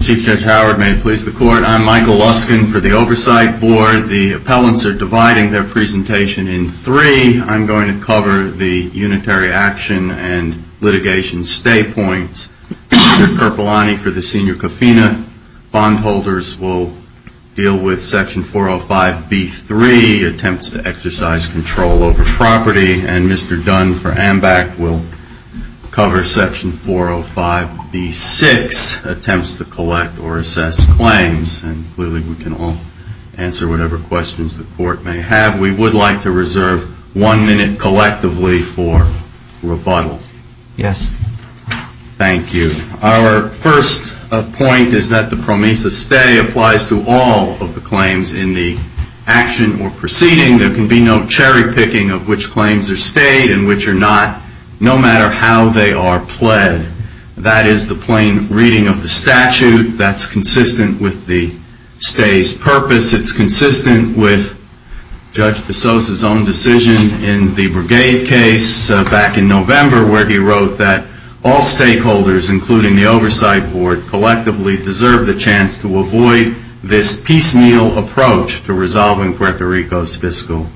Chief Judge Howard, may it please the court, I'm Michael Luskin for the Oversight Board. The appellants are dividing their presentation in three. I'm going to cover the unitary action and litigation stay points. Mr. Karpulani for the Senior Cafina. Bondholders will deal with section 405B3, attempts to exercise control over property. And Mr. Dunn for AMBAC will cover section 405B6, attempts to collect or assess claims. And clearly we can all answer whatever questions the court may have. We would like to reserve one minute collectively for rebuttal. Yes. Thank you. Our first point is that the promisa stay applies to all of the claims in the action or proceeding. There can be no cherry picking of which claims are not, no matter how they are pled. That is the plain reading of the statute that's consistent with the stay's purpose. It's consistent with Judge DeSos' own decision in the Brigade case back in November where he wrote that all stakeholders, including the Oversight Board, collectively deserve the chance to avoid this piecemeal approach to resolving Puerto Rico's fiscal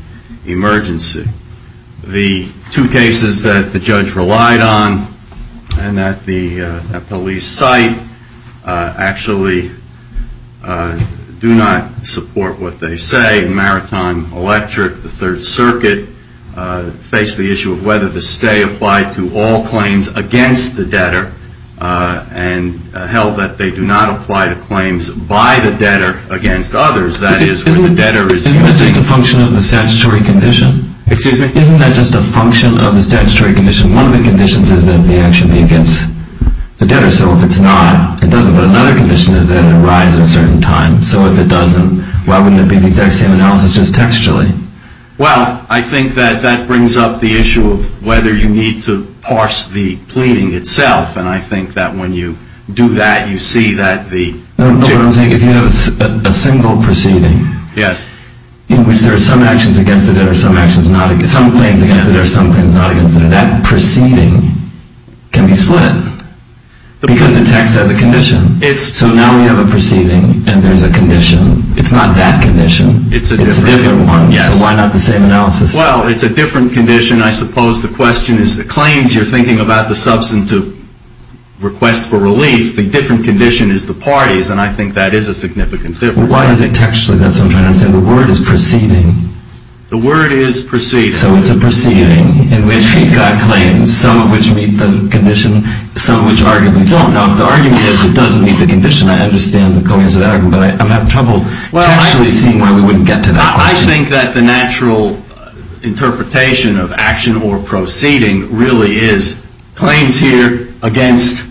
emergency. The two cases that the judge relied on and that the police cite actually do not support what they say. Maritime Electric, the Third Circuit, face the issue of whether the stay applied to all claims against the debtor and held that they do not apply to claims by the debtor against others. That is when the debtor is using the statutory condition. Excuse me? Isn't that just a function of the statutory condition? One of the conditions is that the action be against the debtor. So if it's not, it doesn't. But another condition is that it arrives at a certain time. So if it doesn't, why wouldn't it be the exact same analysis just textually? Well, I think that that brings up the issue of whether you need to parse the pleading itself. And I think that when you do that, you see that the... No, what I'm saying is if you have a single proceeding in which there are some actions against the debtor, some claims against the debtor, some claims not against the debtor, that proceeding can be split because the text has a condition. So now we have a proceeding and there's a condition. It's not that condition. It's a different one. So why not the same analysis? Well, it's a different condition. I suppose the question is the claims you're thinking about the substantive request for relief. The different condition is the parties. And I think that is a significant difference. Why is it textually? That's what I'm trying to understand. The word is proceeding. The word is proceeding. So it's a proceeding in which you've got claims, some of which meet the condition, some of which arguably don't. Now, if the argument is it doesn't meet the condition, I understand the coincidence of that argument. But I'm having trouble actually seeing why we wouldn't get to that. I think that the natural interpretation of action or proceeding really is claims here against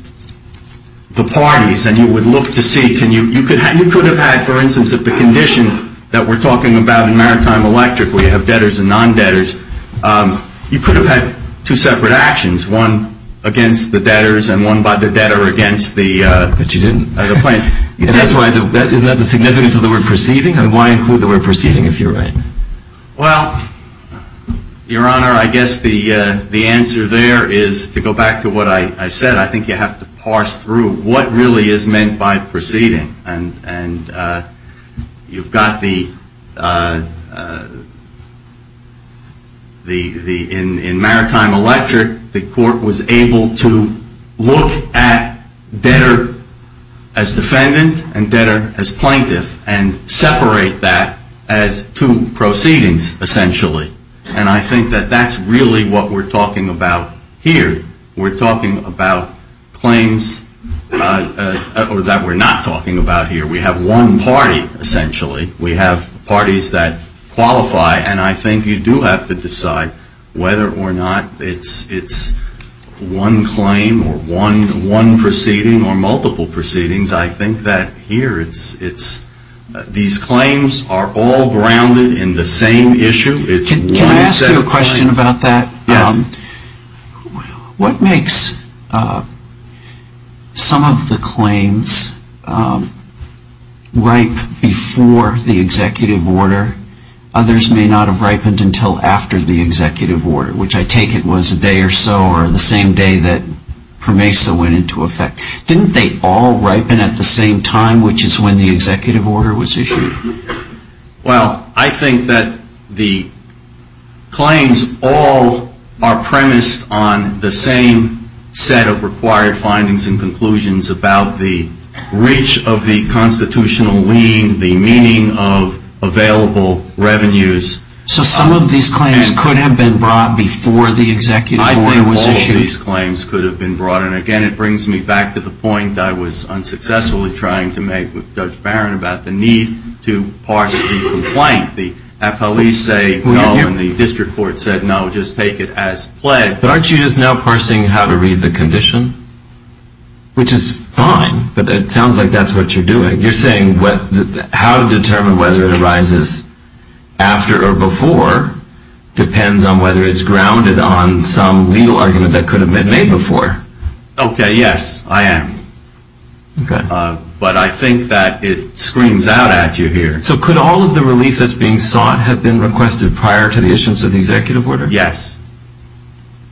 the parties. And you would look to see, you could have had, for instance, if the condition that we're talking about in Maritime Electric where you have debtors and non-debtors, you could have had two separate actions, one against the debtors and one by the debtor against the plaintiff. But you didn't. And that's why, isn't that the significance of the word proceeding? And why include the word proceeding if you're right? Well, Your Honor, I guess the answer there is, to go back to what I said, I think you have to parse through what really is meant by proceeding. And you've got the, in Maritime Electric, the court was able to look at debtor as defendant and debtor as plaintiff and separate that as two proceedings, essentially. And I think that that's really what we're talking about here. We're talking about claims that we're not talking about here. We have one party, essentially. We have parties that qualify. And I think you do have to decide whether or not it's one claim or one proceeding or multiple proceedings. I think that here, these claims are all grounded in the same issue. It's one set of claims. Can I ask you a question about that? Yes. What makes some of the claims ripe before the executive order? Others may not have ripened until after the executive order, which I take it was a day or so or the same day that PROMESA went into effect. Didn't they all ripen at the same time, which is when the executive order was issued? Well, I think that the claims all are premised on the same set of required findings and conclusions about the reach of the constitutional lien, the meaning of available revenues. So some of these claims could have been brought before the executive order was issued? Some of these claims could have been brought. And again, it brings me back to the point I was unsuccessfully trying to make with Judge Barron about the need to parse the complaint. The police say no, and the district court said no, just take it as pledged. But aren't you just now parsing how to read the condition? Which is fine, but it sounds like that's what you're doing. You're saying how to determine whether it arises after or before depends on whether it's grounded on some legal argument that could have been made before. Okay, yes, I am. But I think that it screams out at you here. So could all of the relief that's being sought have been requested prior to the issuance of the executive order? Yes.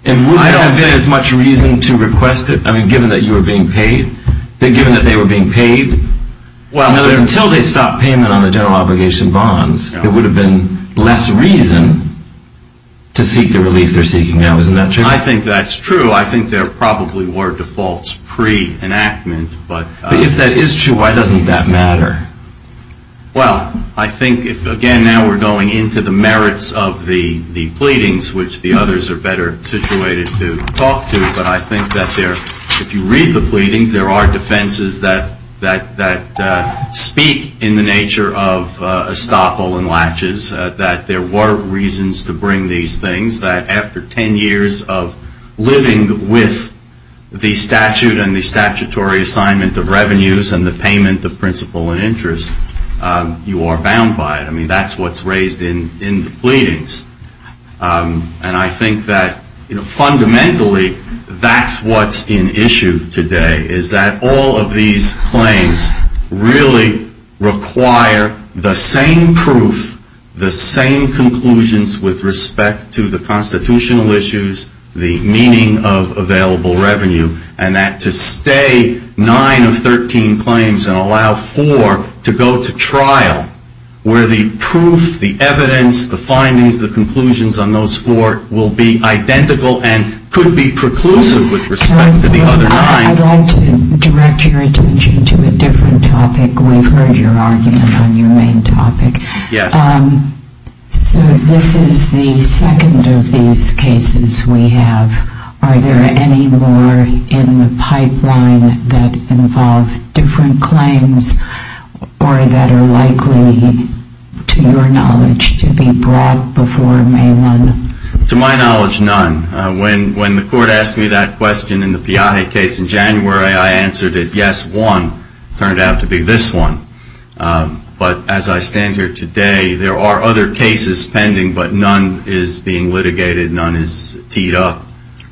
And would there have been as much reason to request it, I mean, given that you were being paid? Given that they were being paid? Because until they stopped payment on the general obligation bonds, there would have been less reason to seek the relief they're seeking now, isn't that true? I think that's true. I think there probably were defaults pre-enactment, but But if that is true, why doesn't that matter? Well, I think if, again, now we're going into the merits of the pleadings, which the others are better situated to talk to, but I think that if you read the pleadings, there are of estoppel and latches, that there were reasons to bring these things, that after 10 years of living with the statute and the statutory assignment of revenues and the payment of principal and interest, you are bound by it. I mean, that's what's raised in the pleadings. And I think that, you know, fundamentally, that's what's in issue today, is that all of these claims really require the same proof, the same conclusions with respect to the constitutional issues, the meaning of available revenue, and that to stay nine of 13 claims and allow four to go to trial, where the proof, the evidence, the findings, the conclusions on those four will be identical and could be preclusive with respect to the other nine. I'd like to direct your attention to a different topic. We've heard your argument on your main topic. Yes. So this is the second of these cases we have. Are there any more in the pipeline that involve different claims or that are likely, to your knowledge, to be brought before May 1? To my knowledge, none. When the court asked me that question in the Piaget case in January, I answered it, yes, one. Turned out to be this one. But as I stand here today, there are other cases pending, but none is being litigated. None is teed up.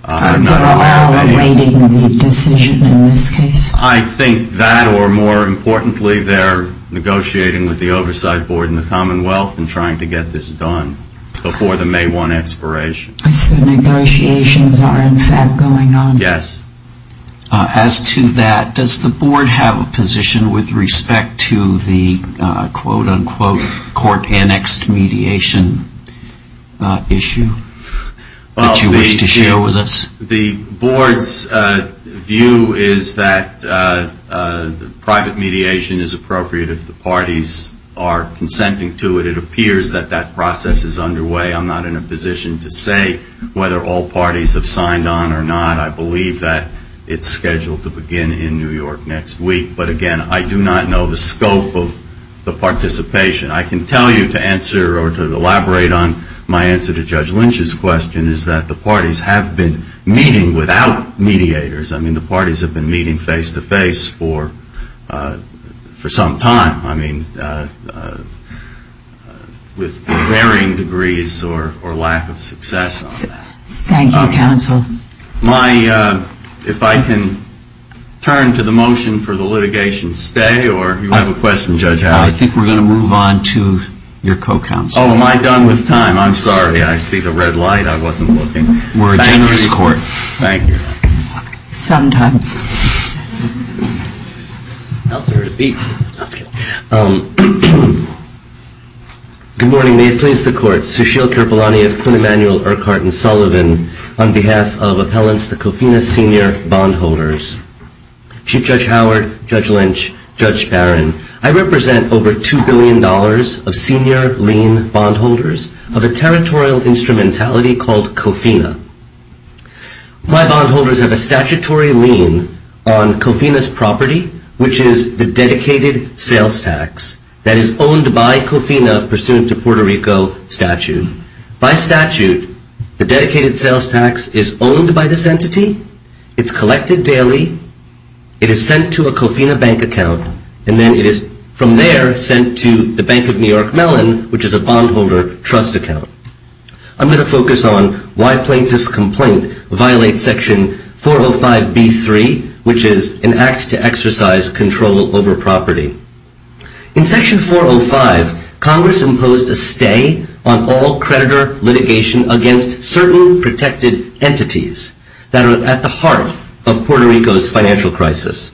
They're all awaiting the decision in this case? I think that or, more importantly, they're negotiating with the Oversight Board and the As the negotiations are, in fact, going on? Yes. As to that, does the Board have a position with respect to the, quote, unquote, court annexed mediation issue that you wish to share with us? The Board's view is that private mediation is appropriate if the parties are consenting to it. It appears that that process is underway. I'm not in a position to say whether all parties have signed on or not. I believe that it's scheduled to begin in New York next week. But, again, I do not know the scope of the participation. I can tell you to answer or to elaborate on my answer to Judge Lynch's question is that the parties have been meeting without mediators. I mean, the parties have been meeting face to face for some time. I mean, with varying degrees or lack of success on that. Thank you, counsel. If I can turn to the motion for the litigation to stay or you have a question, Judge Howard? I think we're going to move on to your co-counsel. Oh, am I done with time? I'm sorry. I see the red light. I wasn't looking. We're a generous court. Thank you. Sometimes. Good morning. May it please the court. Sushil Kirpalani of Quinn Emanuel Urquhart & Sullivan on behalf of Appellants, the Cofina Senior Bondholders. Chief Judge Howard, Judge Lynch, Judge Barron, I represent over $2 billion of senior lien bondholders of a territorial called Cofina. My bondholders have a statutory lien on Cofina's property, which is the dedicated sales tax that is owned by Cofina pursuant to Puerto Rico statute. By statute, the dedicated sales tax is owned by this entity. It's collected daily. It is sent to a Cofina bank account, and then it is from there sent to the Bank of New York Mellon, which is a bondholder trust account. I'm going to focus on why plaintiff's complaint violates section 405B3, which is an act to exercise control over property. In section 405, Congress imposed a stay on all creditor litigation against certain protected entities that are at the heart of Puerto Rico's financial crisis.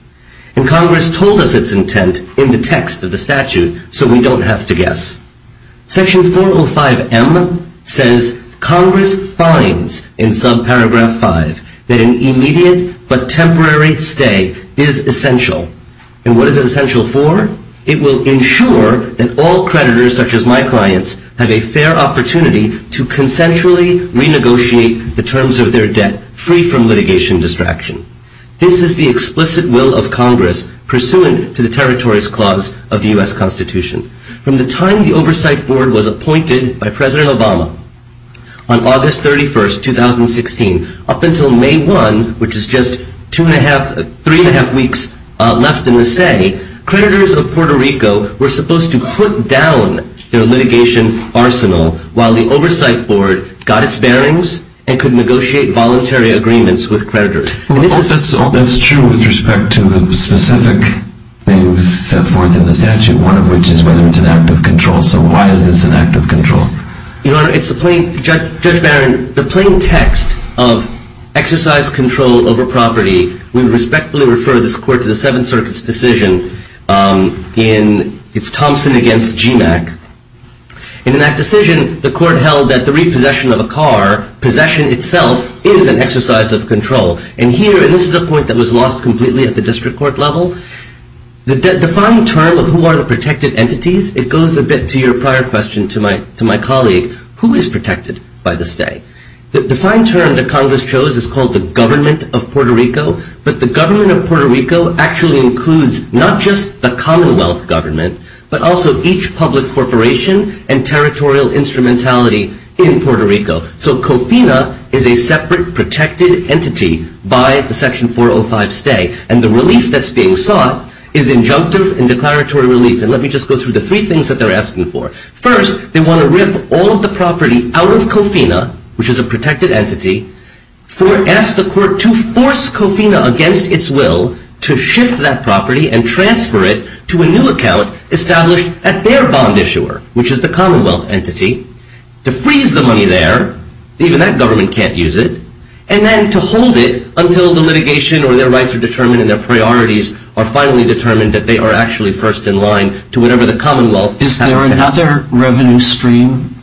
And Congress told us its Article 5M says, Congress finds in subparagraph 5 that an immediate but temporary stay is essential. And what is it essential for? It will ensure that all creditors, such as my clients, have a fair opportunity to consensually renegotiate the terms of their debt free from litigation distraction. This is the explicit will of Congress pursuant to the territories clause of the U.S. Constitution. From the time the Oversight Board was appointed by President Obama on August 31, 2016, up until May 1, which is just two and a half, three and a half weeks left in the stay, creditors of Puerto Rico were supposed to put down their litigation arsenal while the Oversight Board got its bearings and could negotiate voluntary agreements with creditors. Well, that's true with respect to the specific things set forth in the statute, one of which is whether it's an act of control. So why is this an act of control? Your Honor, it's a plain, Judge Barron, the plain text of exercise control over property, we respectfully refer this court to the Seventh Circuit's decision in, it's Thompson against GMAC. In that decision, the court held that the repossession of a car, possession itself, is an exercise of control. And here, and this is a point that was lost completely at the district court level, the defined term of who are the protected entities, it goes a bit to your prior question to my colleague, who is protected by the stay? The defined term that Congress chose is called the government of Puerto Rico, but the government of Puerto Rico actually includes not just the Commonwealth government, but also each public corporation and territorial instrumentality in Puerto Rico. So COFINA is a separate protected entity by the Section 405 stay, and the relief that's being sought is injunctive and declaratory relief. And let me just go through the three things that they're asking for. First, they want to rip all of the property out of COFINA, which is a protected entity, for, ask the court to force COFINA against its will to shift that property and transfer it to a new account established at their bond issuer, which is the Commonwealth entity, to freeze the money there. Even that government can't use it. And then to hold it until the litigation or their rights are determined and their priorities are finally determined that they are actually first in line to whatever the Commonwealth decides to do. Is there another revenue stream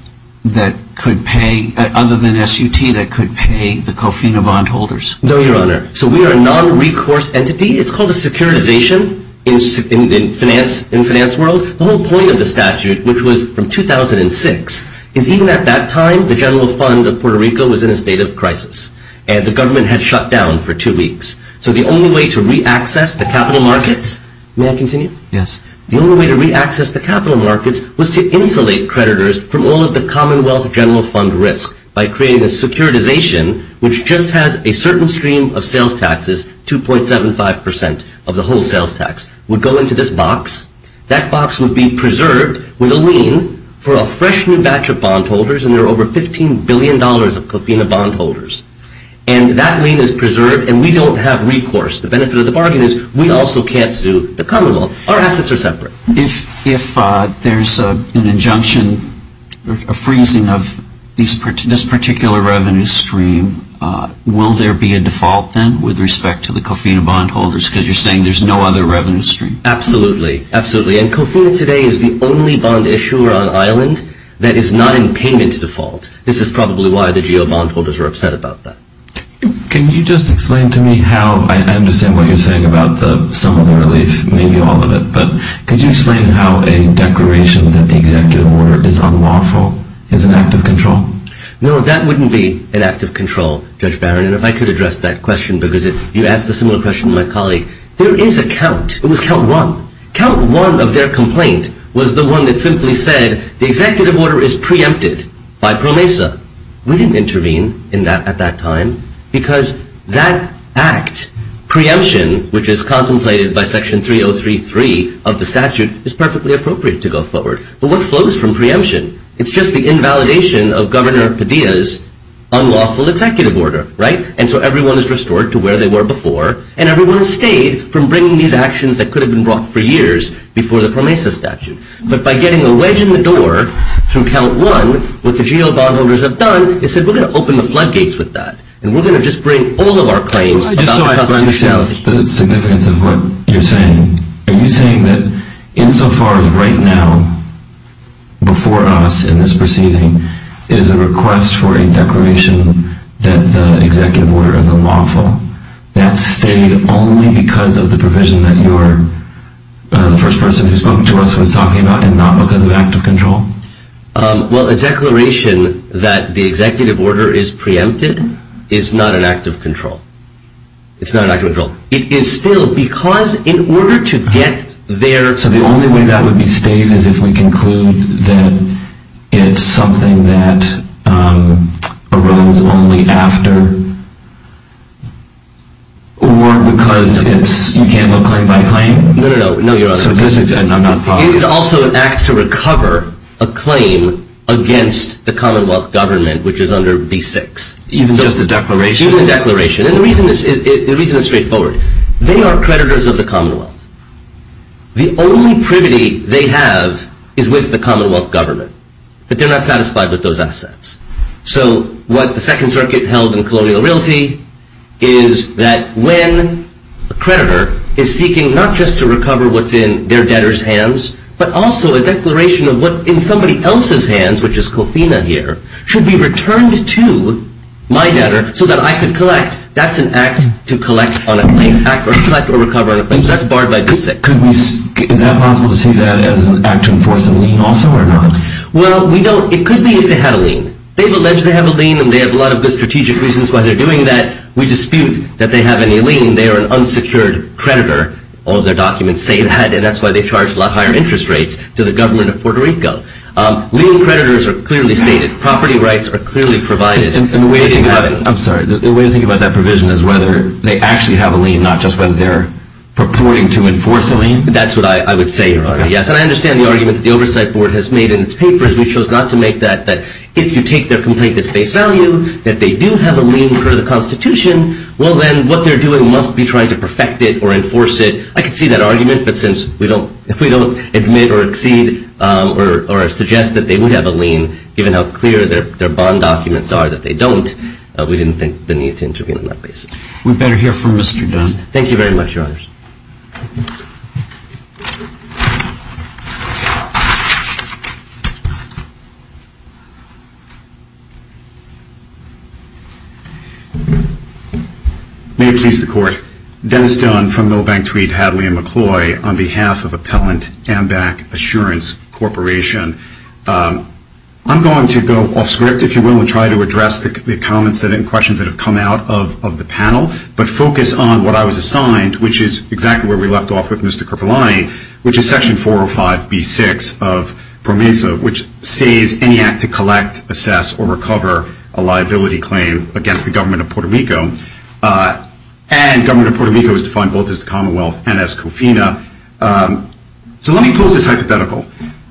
that could pay, other than SUT, that could pay the COFINA bond holders? No, Your Honor. So we are a non-recourse entity. It's called a securitization in finance world. The whole point of the statute, which was from 2006, is even at that time, the General Fund of Puerto Rico was in a state of crisis, and the government had shut down for two weeks. So the only way to reaccess the capital markets, may I continue? Yes. The only way to reaccess the capital markets was to insulate creditors from all of the Commonwealth General Fund risk by creating a securitization, which just has a certain stream of sales taxes, 2.75% of the whole sales tax, would go into this box. That box would be preserved with a lien for a fresh new batch of bond holders, and there are over $15 billion of COFINA bond holders. And that lien is preserved, and we don't have recourse. The benefit of the bargain is we also can't sue the Commonwealth. Our assets are separate. If there's an injunction, a freezing of this particular revenue stream, will there be a default then with respect to the COFINA bond holders, because you're saying there's no other revenue stream? Absolutely. Absolutely. And COFINA today is the only bond issuer on Ireland that is not in payment default. This is probably why the GO bond holders are upset about that. Can you just explain to me how, I understand what you're saying about the sum of the relief, maybe all of it, but could you explain how a declaration that the executive order is unlawful is an act of control? No, that wouldn't be an act of control, Judge Barron. There is a count. It was count one. Count one of their complaint was the one that simply said the executive order is preempted by PROMESA. We didn't intervene at that time, because that act, preemption, which is contemplated by section 3033 of the statute, is perfectly appropriate to go forward. But what flows from preemption? It's just the invalidation of Governor Padilla's unlawful executive order, right? And so everyone is restored to where they were before, and everyone has stayed from bringing these actions that could have been brought for years before the PROMESA statute. But by getting a wedge in the door from count one, what the GO bond holders have done, they said we're going to open the floodgates with that, and we're going to just bring all of our claims about the constitutionality. I just don't understand the significance of what you're saying. Are you saying that insofar as right now, before us in this proceeding, is a request for a declaration that the executive order is unlawful, that stayed only because of the provision that the first person who spoke to us was talking about, and not because of an act of control? Well, a declaration that the executive order is preempted is not an act of control. It's not an act of control. It is still, because in order to get there... So the only way that would be stated is if we conclude that it's something that arose only after, or because it's, you can't go claim by claim? No, no, no. No, you're wrong. It's also an act to recover a claim against the commonwealth government, which is under B6. Even just a declaration? Even a declaration. And the reason is straightforward. They are creditors of the commonwealth. The only privity they have is with the commonwealth government. But they're not satisfied with those assets. So what the Second Circuit held in Colonial Realty is that when a creditor is seeking not just to recover what's in their debtor's hands, but also a declaration of what's in somebody else's hands, which is Cofina here, should be returned to my debtor so that I could collect. That's an act to collect on a claim, or collect or recover on a claim. That's barred by B6. Is that possible to see that as an act to enforce a lien also, or not? Well, we don't. It could be if they had a lien. They've alleged they have a lien, and they have a lot of good strategic reasons why they're doing that. We dispute that they have any lien. They are an unsecured creditor. All of their documents say that, and that's why they charge a lot higher interest rates to the government of Puerto Rico. Lien creditors are clearly stated. Property rights are clearly provided. I'm sorry. The way to think about that provision is whether they actually have a lien, not just whether they're purporting to enforce a lien. That's what I would say, Your Honor, yes. And I understand the argument that the Oversight Board has made in its papers. We chose not to make that, that if you take their complaint at face value, that they do have a lien per the Constitution. Well, then what they're doing must be trying to perfect it or enforce it. I could see that argument, but since we don't, if we don't admit or exceed or suggest that they would have a lien, given how clear their bond documents are that they don't, we didn't think the need to intervene on that basis. We'd better hear from Mr. Dunn. Thank you very much, Your Honors. May it please the Court. Dennis Dunn from Milbank Tweed, Hadley & McCloy on behalf of Appellant Amback Assurance Corporation. I'm going to go off script, if you will, and try to address the comments and questions that have come out of the panel, but focus on what I was assigned, which is exactly where we left off with Mr. Kerpelani, which is Section 405B6 of PROMESA, which states any act to collect, assess, or recover a liability claim against the government of Puerto Rico. And government of Puerto Rico is defined both as the Commonwealth and as COFINA. So let me pose this hypothetical.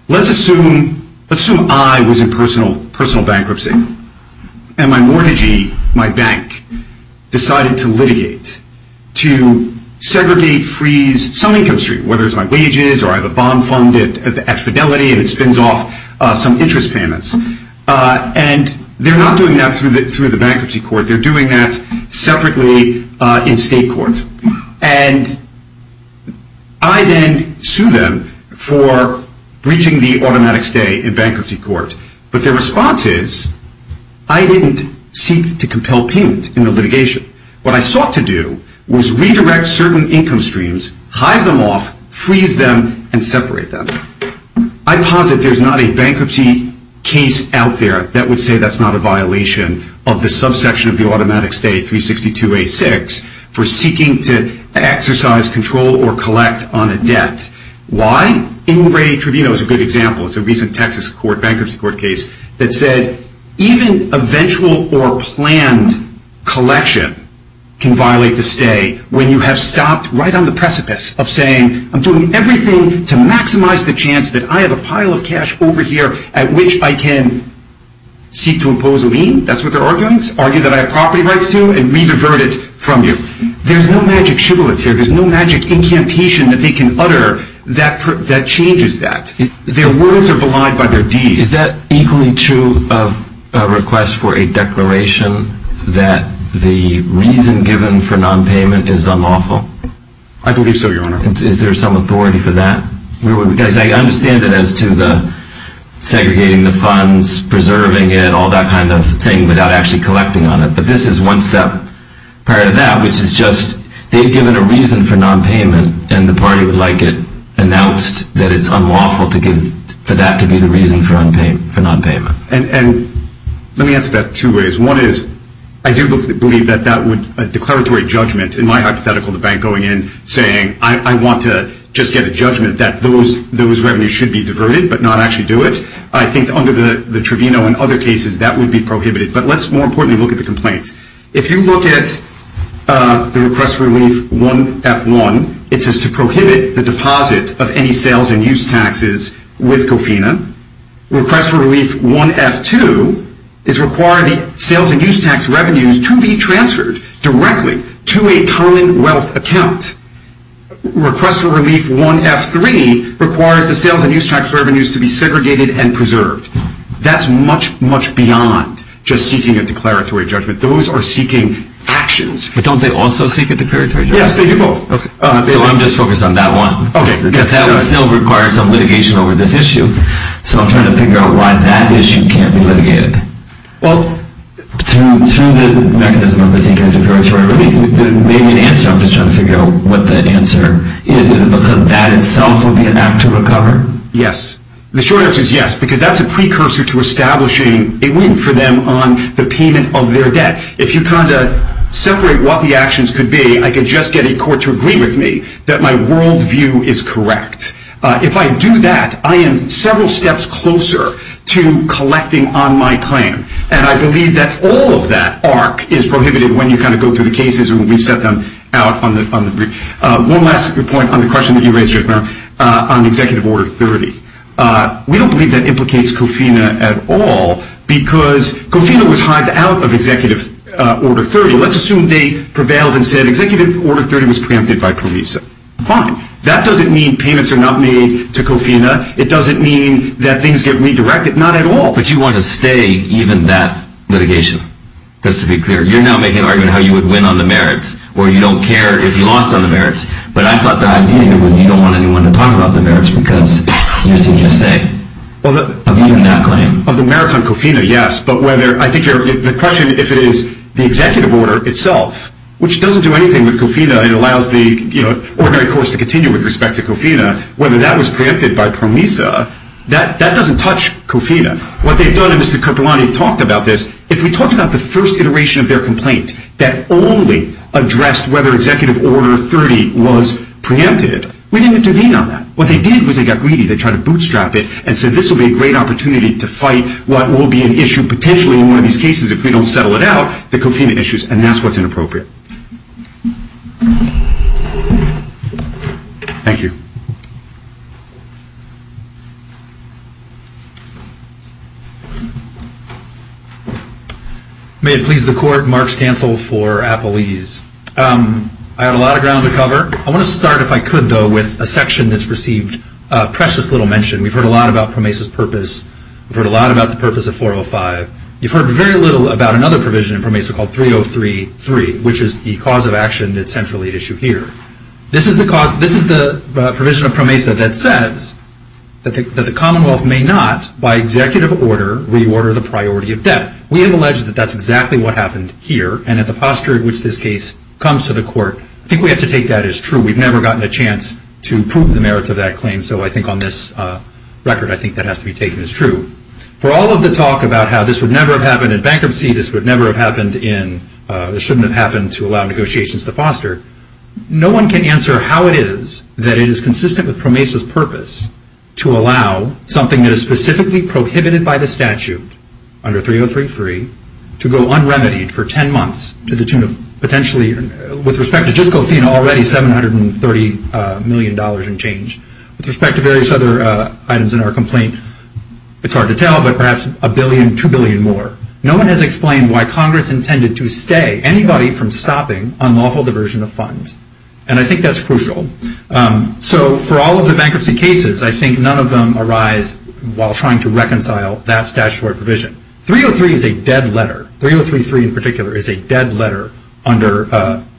Let's assume I was in personal bankruptcy, and my mortgagee, my bank, decided to litigate, to segregate, freeze some income stream, whether it's my wages or I have a bond fund at Fidelity and it spins off some interest payments. And they're not doing that through the bankruptcy court. They're doing that separately in state court. And I then sue them for breaching the automatic stay in bankruptcy court. But their response is, I didn't seek to compel payment in the litigation. What I sought to do was redirect certain income streams, hive them off, freeze them, and separate them. I posit there's not a bankruptcy case out there that would say that's not a violation of the to exercise control or collect on a debt. Why? Ingray Tribunal is a good example. It's a recent Texas bankruptcy court case that said even eventual or planned collection can violate the stay when you have stopped right on the precipice of saying, I'm doing everything to maximize the chance that I have a pile of cash over here at which I can seek to impose a lien. That's what they're arguing. Argue that I have property rights to and re-divert it from you. There's no magic shibboleth here. There's no magic incantation that they can utter that changes that. Their words are belied by their deeds. Is that equally true of a request for a declaration that the reason given for non-payment is unlawful? I believe so, Your Honor. Is there some authority for that? Because I understand that as to the segregating the funds, preserving it, all that kind of thing without actually collecting on it. But this is one step prior to that, which is just they've given a reason for non-payment and the party would like it announced that it's unlawful for that to be the reason for non-payment. And let me answer that two ways. One is, I do believe that that would, a declaratory judgment in my hypothetical, the bank going in saying, I want to just get a judgment that those revenues should be diverted but not actually do it. I think under the tribunal and other cases, that would be prohibited. But let's more importantly look at the complaints. If you look at the Request for Relief 1F1, it says to prohibit the deposit of any sales and use taxes with Gofina. Request for Relief 1F2 is require the sales and use tax revenues to be transferred directly to a common wealth account. Request for Relief 1F3 requires the sales and use tax revenues to be segregated and preserved. That's much, much beyond just seeking a declaratory judgment. Those are seeking actions. But don't they also seek a declaratory judgment? Yes, they do both. So I'm just focused on that one. OK. Because that would still require some litigation over this issue. So I'm trying to figure out why that issue can't be litigated. Well, through the mechanism of the Seeking a Declaratory Relief, there may be an answer. I'm just trying to figure out what the answer is. Is it because that itself would be an act to recover? Yes. The short answer is yes, because that's a precursor to establishing a win for them on the payment of their debt. If you kind of separate what the actions could be, I could just get a court to agree with me that my worldview is correct. If I do that, I am several steps closer to collecting on my claim. And I believe that all of that arc is prohibited when you kind of go through the cases and we've set them out on the brief. One last point on the question that you raised, Jeff Merrill, on Executive Order 30. We don't believe that implicates COFINA at all, because COFINA was hived out of Executive Order 30. Let's assume they prevailed and said Executive Order 30 was preempted by PROVISA. Fine. That doesn't mean payments are not made to COFINA. It doesn't mean that things get redirected. Not at all. But you want to stay even that litigation. Just to be clear, you're now making an argument how you would win on the merits or you don't care if you lost on the merits. But I thought the idea here was you don't want anyone to talk about the merits because you're seeking to stay. Of the merits on COFINA, yes. But I think the question, if it is the Executive Order itself, which doesn't do anything with COFINA. It allows the ordinary courts to continue with respect to COFINA. Whether that was preempted by PROVISA, that doesn't touch COFINA. What they've done, and Mr. Karpulani talked about this, if we talked about the first iteration of their complaint that only addressed whether Executive Order 30 was preempted, we didn't intervene on that. What they did was they got greedy. They tried to bootstrap it and said this will be a great opportunity to fight what will be an issue potentially in one of these cases if we don't settle it out, the COFINA issues. And that's what's inappropriate. Thank you. May it please the Court, Mark Stansel for Appalese. I had a lot of ground to cover. I want to start, if I could, though, with a section that's received precious little mention. We've heard a lot about PROMESA's purpose. We've heard a lot about the purpose of 405. You've heard very little about another provision in PROMESA called 3033, which is the cause of action that's centrally at issue here. This is the provision of PROMESA that says that the Commonwealth may not, by Executive Order, reorder the priority of debt. We have alleged that that's exactly what happened here. And at the posture in which this case comes to the Court, I think we have to take that as true. We've never gotten a chance to prove the merits of that claim. So I think on this record, I think that has to be taken as true. For all of the talk about how this would never have happened in bankruptcy, this would never have happened in, this shouldn't have happened to allow negotiations to foster, no one can answer how it is that it is consistent with PROMESA's purpose to allow something that is specifically prohibited by the statute, under 3033, to go unremitied for 10 months, to the tune of potentially, with respect to Jyskofina, already $730 million and change. With respect to various other items in our complaint, it's hard to tell, but perhaps a billion, two billion more. No one has explained why Congress intended to stay, anybody from stopping unlawful diversion of funds. And I think that's crucial. So for all of the bankruptcy cases, I think none of them arise while trying to reconcile that statutory provision. 303 is a dead letter. 3033 in particular is a dead letter, under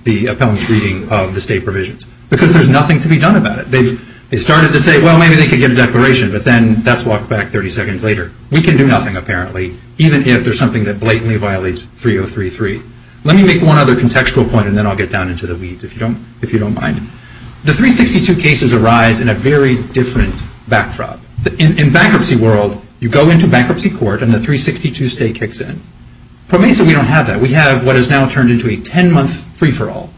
the appellant's reading of the state provisions. Because there's nothing to be done about it. They started to say, well maybe they could get a declaration, but then that's walked back 30 seconds later. We can do nothing apparently, even if there's something that blatantly violates 3033. Let me make one other contextual point, and then I'll get down into the weeds, if you don't mind. The 362 cases arise in a very different backdrop. In bankruptcy world, you go into bankruptcy court, and the 362 stay kicks in. Pro Mesa, we don't have that. We have what has now turned into a 10-month free-for-all.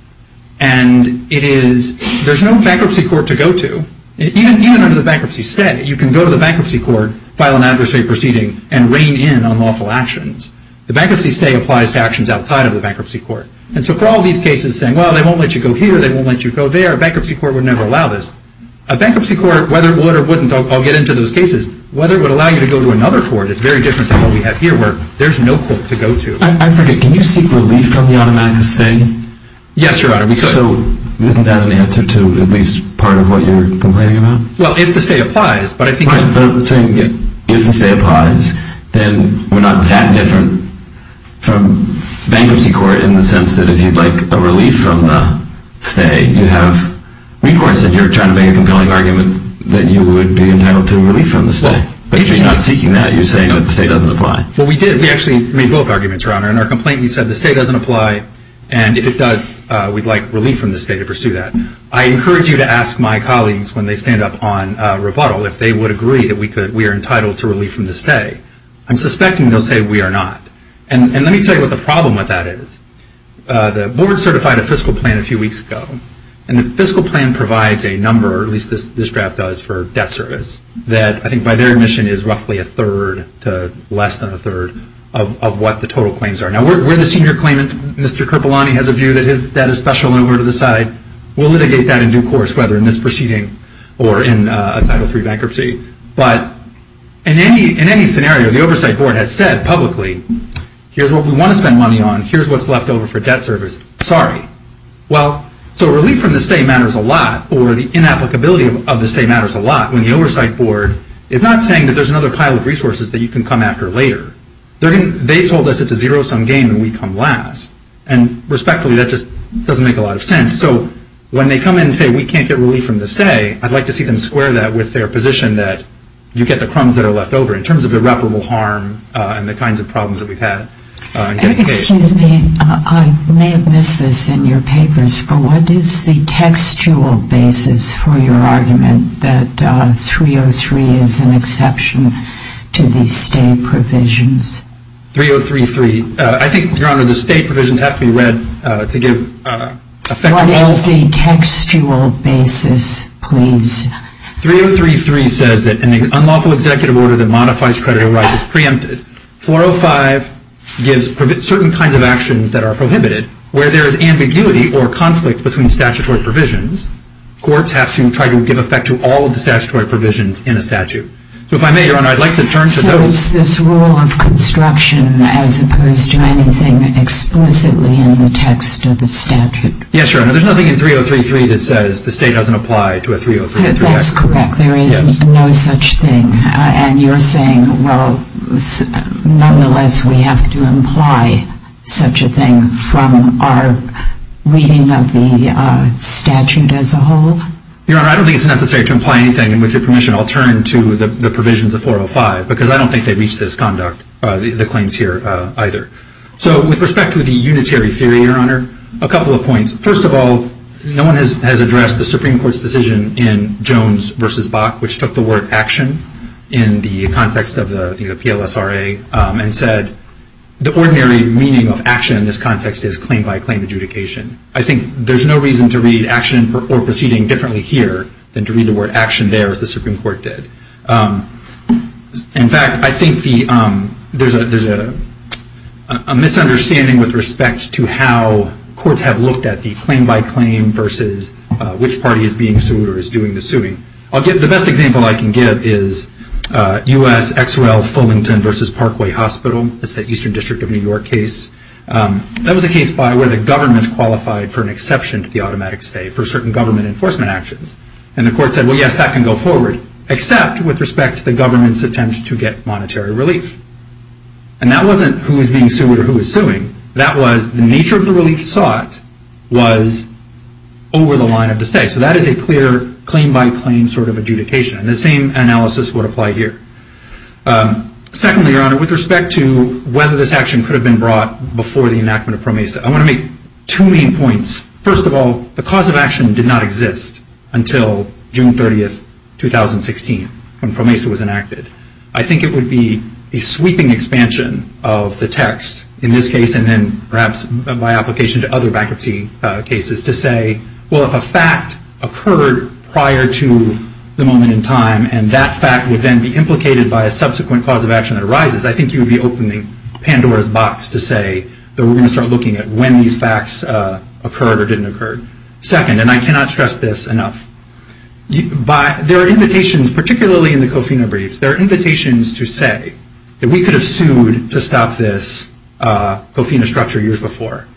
And there's no bankruptcy court to go to, even under the bankruptcy stay. You can go to the bankruptcy court, file an adversary proceeding, and rein in unlawful actions. The bankruptcy stay applies to actions outside of the bankruptcy court. And so for all these cases saying, well they won't let you go here, they won't let you go there, a bankruptcy court would never allow this. A bankruptcy court, whether it would or wouldn't, I'll get into those cases, whether it would allow you to go to another court, it's very different than what we have here, where there's no court to go to. I forget, can you seek relief from the automatic stay? Yes, Your Honor, we could. So isn't that an answer to at least part of what you're complaining about? Well, if the stay applies, but I think... If the stay applies, then we're not that different from bankruptcy court in the sense that if you'd like a relief from the stay, you have recourse, and you're trying to make a compelling argument that you would be entitled to a relief from the stay. But you're not seeking that, you're saying that the stay doesn't apply. Well, we did. We actually made both arguments, Your Honor. In our complaint, we said the stay doesn't apply, and if it does, we'd like relief from the stay to pursue that. I encourage you to ask my colleagues when they stand up on rebuttal, if they would agree that we are entitled to relief from the stay. I'm suspecting they'll say we are not. And let me tell you what the problem with that is. The board certified a fiscal plan a few weeks ago, and the fiscal plan provides a number, or at least this draft does, for debt service that I think by their admission is roughly a third to less than a third of what the total claims are. Now, we're the senior claimant. Mr. Kerpelani has a view that that is special and over to the side. We'll litigate that in due course, whether in this proceeding or in a Title III bankruptcy. But in any scenario, the oversight board has said publicly here's what we want to spend money on, here's what's left over for debt service. Sorry. Well, so relief from the stay matters a lot, or the inapplicability of the stay matters a lot, when the oversight board is not saying that there's another pile of resources that you can come after later. They've told us it's a zero-sum game and we come last. And respectfully, that just doesn't make a lot of sense. So when they come in and say we can't get relief from the stay, I'd like to see them square that with their position that you get the crumbs that are left over in terms of irreparable harm and the kinds of problems that we've had. Excuse me. I may have missed this in your papers, but what is the textual basis for your argument that 303 is an exception to the stay provisions? 3033. I think, Your Honor, the stay provisions have to be read to give effective evidence. What is the textual basis, please? 3033 says that an unlawful executive order that modifies creditorial rights is preempted. 405 gives certain kinds of actions that are prohibited. Where there is ambiguity or conflict between statutory provisions, courts have to try to give effect to all of the statutory provisions in a statute. So if I may, Your Honor, I'd like to turn to those. So it's this rule of construction as opposed to anything explicitly in the text of the statute. Yes, Your Honor. There's nothing in 3033 that says the stay doesn't apply to a 303X. That's correct. There is no such thing. And you're saying, well, nonetheless, we have to imply such a thing from our reading of the statute as a whole? Your Honor, I don't think it's necessary to imply anything. And with your permission, I'll turn to the provisions of 405 because I don't think they reach the claims here either. So with respect to the unitary theory, Your Honor, a couple of points. First of all, no one has addressed the Supreme Court's decision in Jones v. Bach which took the word action in the context of the PLSRA and said the ordinary meaning of action in this context is claim by claim adjudication. I think there's no reason to read action or proceeding differently here than to read the word action there as the Supreme Court did. In fact, I think there's a misunderstanding with respect to how courts have looked at the claim by claim versus which party is being sued or is doing the suing. The best example I can give is U.S. XRL Fullington v. Parkway Hospital. It's that Eastern District of New York case. That was a case where the government qualified for an exception to the automatic stay for certain government enforcement actions. And the court said, well, yes, that can go forward. Except with respect to the government's attempt to get monetary relief. And that wasn't who was being sued or who was suing. That was the nature of the relief sought was over the line of the stay. So that is a clear claim by claim sort of adjudication. And the same analysis would apply here. Secondly, Your Honor, with respect to whether this action could have been brought before the enactment of PROMESA. I want to make two main points. First of all, the cause of action did not exist until June 30, 2016 when PROMESA was enacted. I think it would be a sweeping expansion of the text in this case and then perhaps by application to other bankruptcy cases to say well, if a fact occurred prior to the moment in time and that fact would then be implicated by a subsequent cause of action that arises I think you would be opening Pandora's box to say that we're going to start looking at when these facts occurred or didn't occur. Second, and I cannot stress this enough. There are invitations, particularly in the Kofina briefs, there are invitations to say that we could have sued to stop this Kofina structure years before.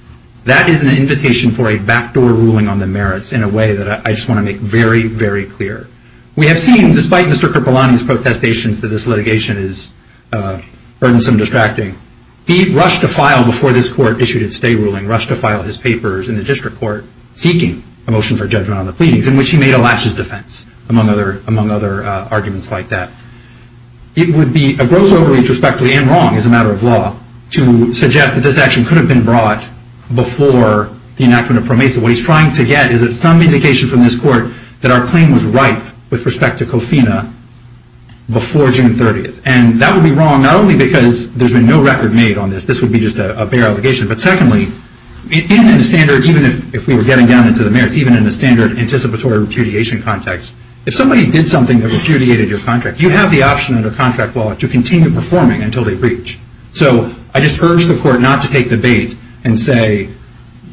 That is an invitation for a backdoor ruling on the merits in a way that I just want to make very, very clear. We have seen, despite Mr. Kripalani's protestations that this litigation is burdensome and distracting, he rushed to file before this court issued its stay ruling, rushed to file his papers in the district court seeking a motion for judgment in which he made a lashes defense among other arguments like that. It would be a gross overreach, respectively, and wrong as a matter of law to suggest that this action could have been brought before the enactment of PROMESA. What he's trying to get is some indication from this court that our claim was ripe with respect to Kofina before June 30th. And that would be wrong not only because there's been no record made on this, this would be just a bare allegation, but secondly even in the standard, even if we were getting down into the merits, even in the standard anticipatory repudiation context, if somebody did something that repudiated your contract, you have the option under contract law to continue performing until they breach. So I just urge the court not to take the bait and say,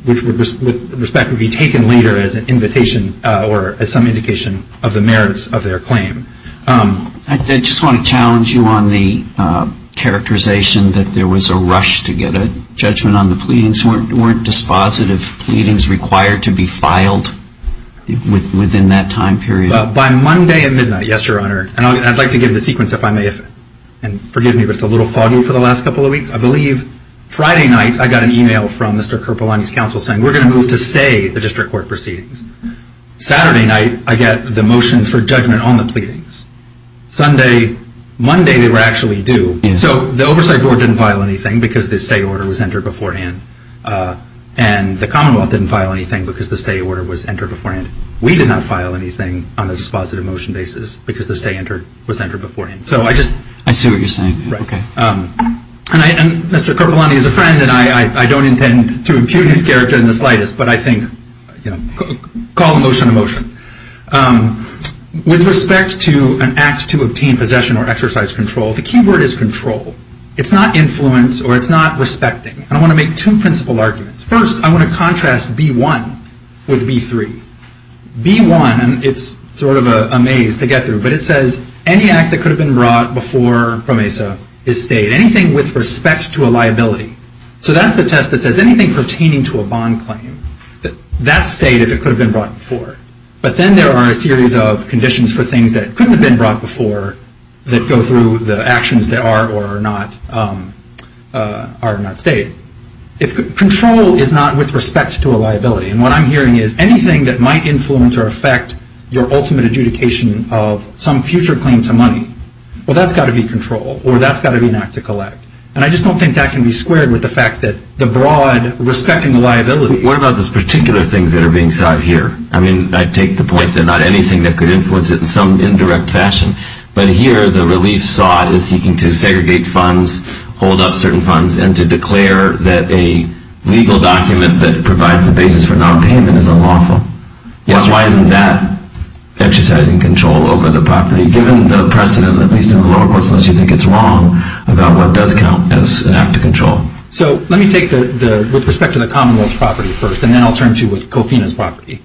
which with respect would be taken later as an invitation or as some indication of the merits of their claim. I just want to challenge you on the characterization that there was a rush to get a judgment on the pleadings, weren't dispositive pleadings required to be filed within that time period? By Monday at midnight, yes, Your Honor. And I'd like to give the sequence if I may, and forgive me if it's a little foggy for the last couple of weeks. I believe Friday night I got an email from Mr. Kerpelani's counsel saying, we're going to move to say the district court proceedings. Saturday night I got the motion for judgment on the pleadings. Sunday, Monday they were actually due. So the oversight board didn't file anything because the say order was entered beforehand. And the commonwealth didn't file anything because the say order was entered beforehand. We did not file anything on a dispositive motion basis because the say order was entered beforehand. I see what you're saying. Mr. Kerpelani is a friend and I don't intend to impute his character in the slightest, but I think, call the motion a motion. With respect to an act to obtain possession or exercise control, the key word is control. It's not influence or it's not respecting. I want to make two principle arguments. First, I want to contrast B1 with B3. B1, it's sort of a maze to get through, but it says any act that could have been brought before PROMESA is stayed. Anything with respect to a liability. So that's the test that says anything pertaining to a bond claim that's stayed if it could have been brought before. But then there are a series of conditions for things that couldn't have been brought before that go through the actions that are or are not stayed. Control is not with respect to a liability. And what I'm hearing is anything that might influence or affect your ultimate adjudication of some future claim to money, well, that's got to be control or that's got to be an act to collect. And I just don't think that can be squared with the fact that the broad respecting the liability... What about those particular things that are being sought here? I mean, I take the point that not anything that could influence it in some indirect fashion, but here the relief sought is seeking to segregate funds, hold up certain funds, and to declare that a legal document that provides the basis for nonpayment is unlawful. Yes, why isn't that exercising control over the property given the precedent, at least in the lower courts, unless you think it's wrong, about what does count as an act of control? So let me take the... with respect to the Commonwealth's property first, and then I'll turn to with COFINA's property.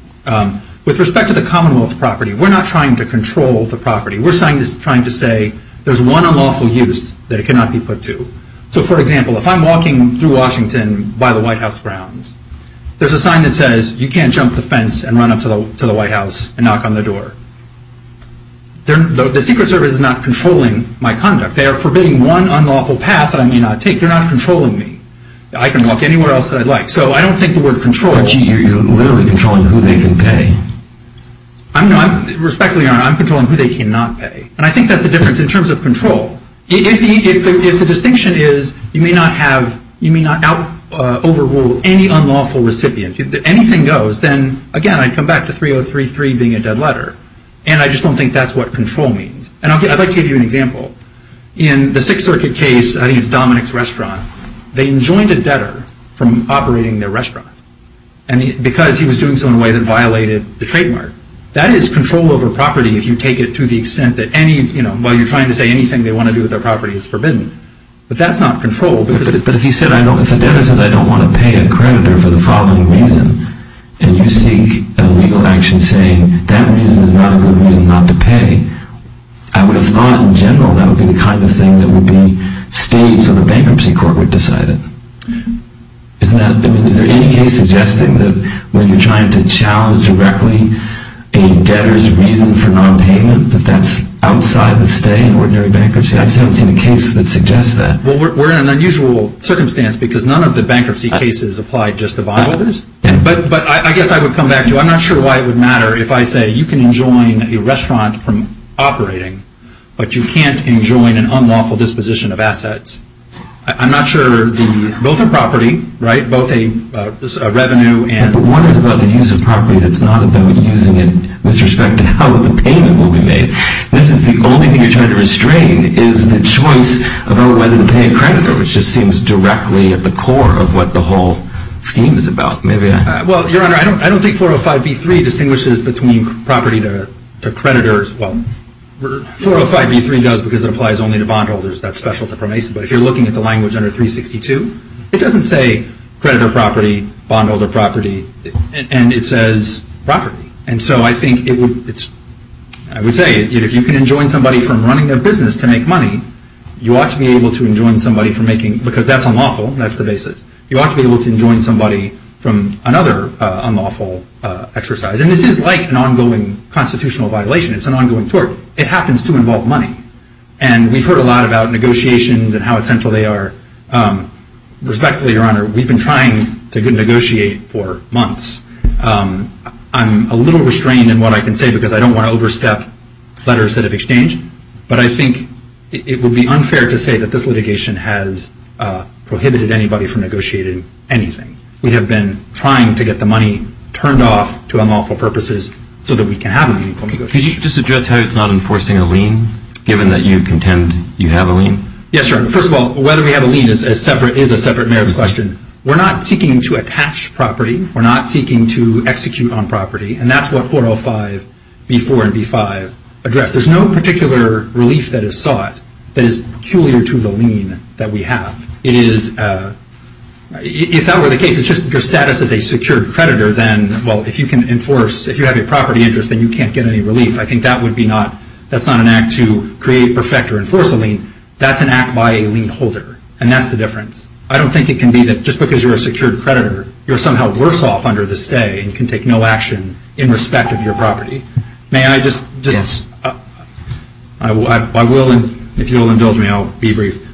With respect to the Commonwealth's property, we're not trying to control the property. We're trying to say there's one unlawful use that it cannot be put to. So, for example, if I'm walking through Washington by the White House grounds, there's a sign that says, you can't jump the fence and run up to the White House and knock on their door. The Secret Service is not controlling my conduct. They are forbidding one unlawful path that I may not take. They're not controlling me. I can walk anywhere else that I'd like. So I don't think the word control... You're literally controlling who they can pay. I'm not... Respectfully, Your Honor, I'm controlling who they cannot pay. And I think that's the difference in terms of control. If the distinction is you may not have... you may not overrule any unlawful recipient. If anything goes, then again, I come back to 3033 being a dead letter. And I just don't think that's what control means. And I'd like to give you an example. In the Sixth Circuit case, I think it's Dominic's Restaurant, they enjoined a debtor from operating their restaurant. And because he was doing so in a way that violated the trademark. That is control over property if you take it to the extent that any... you know, while you're trying to say anything they want to do with their property is forbidden. But that's not control. But if he said, if a debtor says I don't want to pay a creditor for the following reason and you seek a legal action saying that reason is not a good reason not to pay, I would have thought in general that would be the kind of thing that would be states or the Bankruptcy Court would decide. Is there any case suggesting that when you're trying to challenge directly a debtor's reason for non-payment that that's outside the stay in ordinary bankruptcy? I haven't seen a case that suggests that. Well, we're in an unusual circumstance because none of the bankruptcy cases apply just to bondholders. But I guess I would come back to I'm not sure why it would matter if I say you can enjoin a restaurant from operating, but you can't enjoin an unlawful disposition of assets. I'm not sure the both a property, right, both a revenue and... But one is about the use of property that's not about using it with respect to how the payment will be made. This is the only thing you're trying to restrain is the choice about whether to pay a creditor, which just seems directly at the core of what the whole scheme is about. Well, Your Honor, I don't think 405b3 distinguishes between property to creditors. Well, 405b3 does because it applies only to bondholders. That's special to Promesa. But if you're looking at the language under 362, it doesn't say creditor property, bondholder property, and it says property. And so I think it would I would say if you can enjoin somebody from running a business to make money, you ought to be able to enjoin somebody from making because that's unlawful. That's the basis. You ought to be able to enjoin somebody from another unlawful exercise. And this is like an ongoing constitutional violation. It's an ongoing tort. It happens to involve money. And we've heard a lot about negotiations and how essential they are. Respectfully, Your Honor, we've been trying to negotiate for months. I'm a little restrained in what I can say because I don't want to overstep letters that have exchanged. But I think it would be unfair to say that this litigation has prohibited anybody from negotiating anything. We have been trying to get the money turned off to unlawful purposes so that we can have a meaningful negotiation. Could you just address how it's not enforcing a lien given that you contend you have a lien? Yes, Your Honor. First of all, whether we have a lien is a separate merits question. We're not seeking to attach property. We're not seeking to execute on property. And that's what 405 B4 and B5 address. There's no particular relief that is sought that is peculiar to the lien that we have. It is if that were the case, it's just your status as a secured creditor, then, well, if you can enforce, if you have a property interest, then you can't get any relief. I think that would be not, that's not an act to create, perfect, or enforce a lien. That's an act by a lien holder. And that's the difference. I don't think it can be that just because you're a secured creditor, you're somehow worse off under the stay and can take no action in respect of your property. May I just... Yes. I will, and if you'll indulge me, I'll be brief.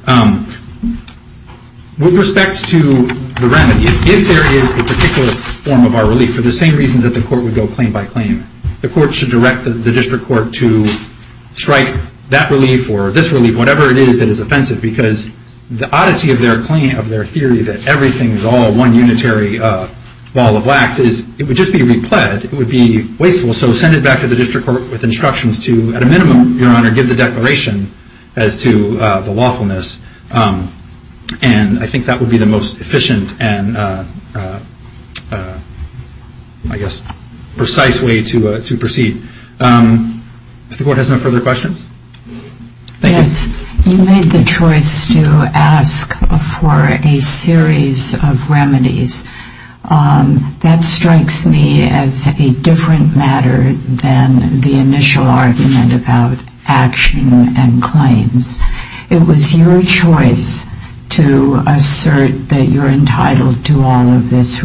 With respect to the remedy, if there is a particular form of our relief for the same reasons that the court would go claim by claim, the court should direct the district court to strike that relief or this relief, whatever it is that is offensive, because the oddity of their claim, of their theory that everything is all one unitary ball of wax, is it would just be repled. It would be wasteful. So send it back to the district court with instructions to, at a minimum, Your Honor, give the declaration as to the lawfulness. And I think that would be the most efficient and I guess precise way to proceed. If the court has no further questions? Yes. You made the choice to ask for a series of remedies. That strikes me as a different matter than the initial argument about action and claims. It was your choice to assert that you're entitled to all of those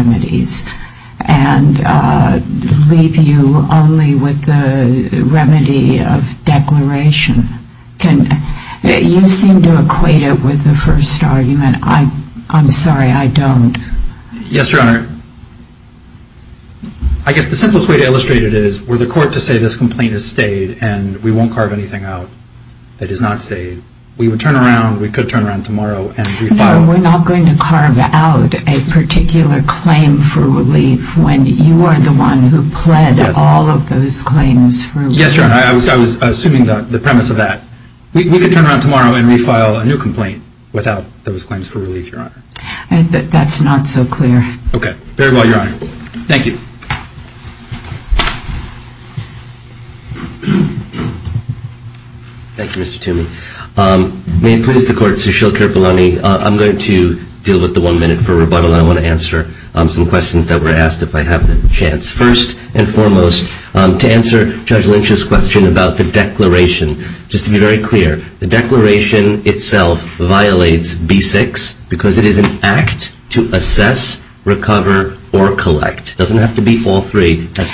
remedies and leave you only with the remedy of declaration. You seem to equate it with the first argument. I'm sorry, Your Honor. I guess the simplest way to illustrate it is to say that the first argument to illustrate it is for the court to say this complaint has stayed and we won't carve anything out that has not stayed. We would turn around, we could turn around tomorrow and refile. No, we're not going to carve out a particular claim for relief when you are the one who pled all of those claims for relief. Yes, Your Honor. I was assuming the premise of that. We could turn around tomorrow and refile a new complaint without those claims for relief, Your Honor. That's not so clear. Okay. Very well, Your Honor. Thank you. Thank you, Mr. Toomey. May it please the court, Sushil Kirpalani, I'm going to deal with the one minute for rebuttal and I want to answer some questions that were asked if I have the chance. First and foremost, to answer Judge Lynch's question about the declaration, just to be very clear, the declaration itself violates B-6 because it is an act to assess, recover, or collect. It doesn't have to be all three. There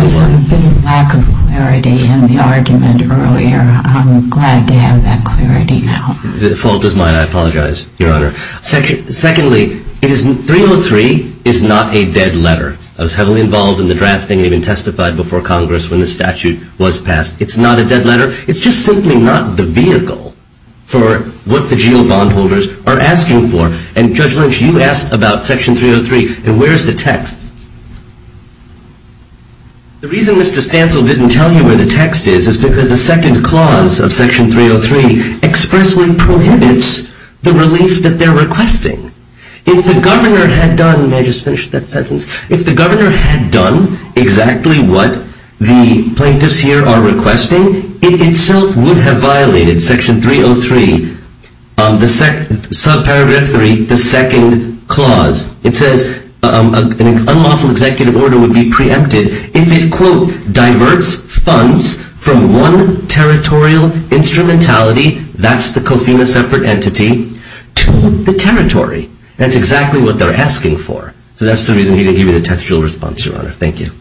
was a bit of lack of clarity in the argument earlier. I'm glad to have that clarity now. The fault is mine. I apologize, Your Honor. Secondly, 303 is not a dead letter. I was heavily involved in the drafting and even testified before Congress when the statute was passed. It's not a dead letter. It's just simply not the vehicle for what the GO bondholders are asking for. And Judge Lynch, you asked about Section 303 and where is the text? The reason Mr. Stancil didn't tell you where the text is is because the second clause of Section 303 expressly prohibits the relief that they're requesting. If the governor had done, may I just finish that sentence, if the governor had done exactly what the plaintiffs here are requesting, it itself would have violated Section 303, subparagraph 3, the second clause. It says an unlawful executive order would be preempted if it, quote, diverts funds from one territorial instrumentality, that's the COFINA separate entity, to the territory. That's exactly what they're asking for. So that's the reason he didn't give you the textual response, Your Honor. Thank you.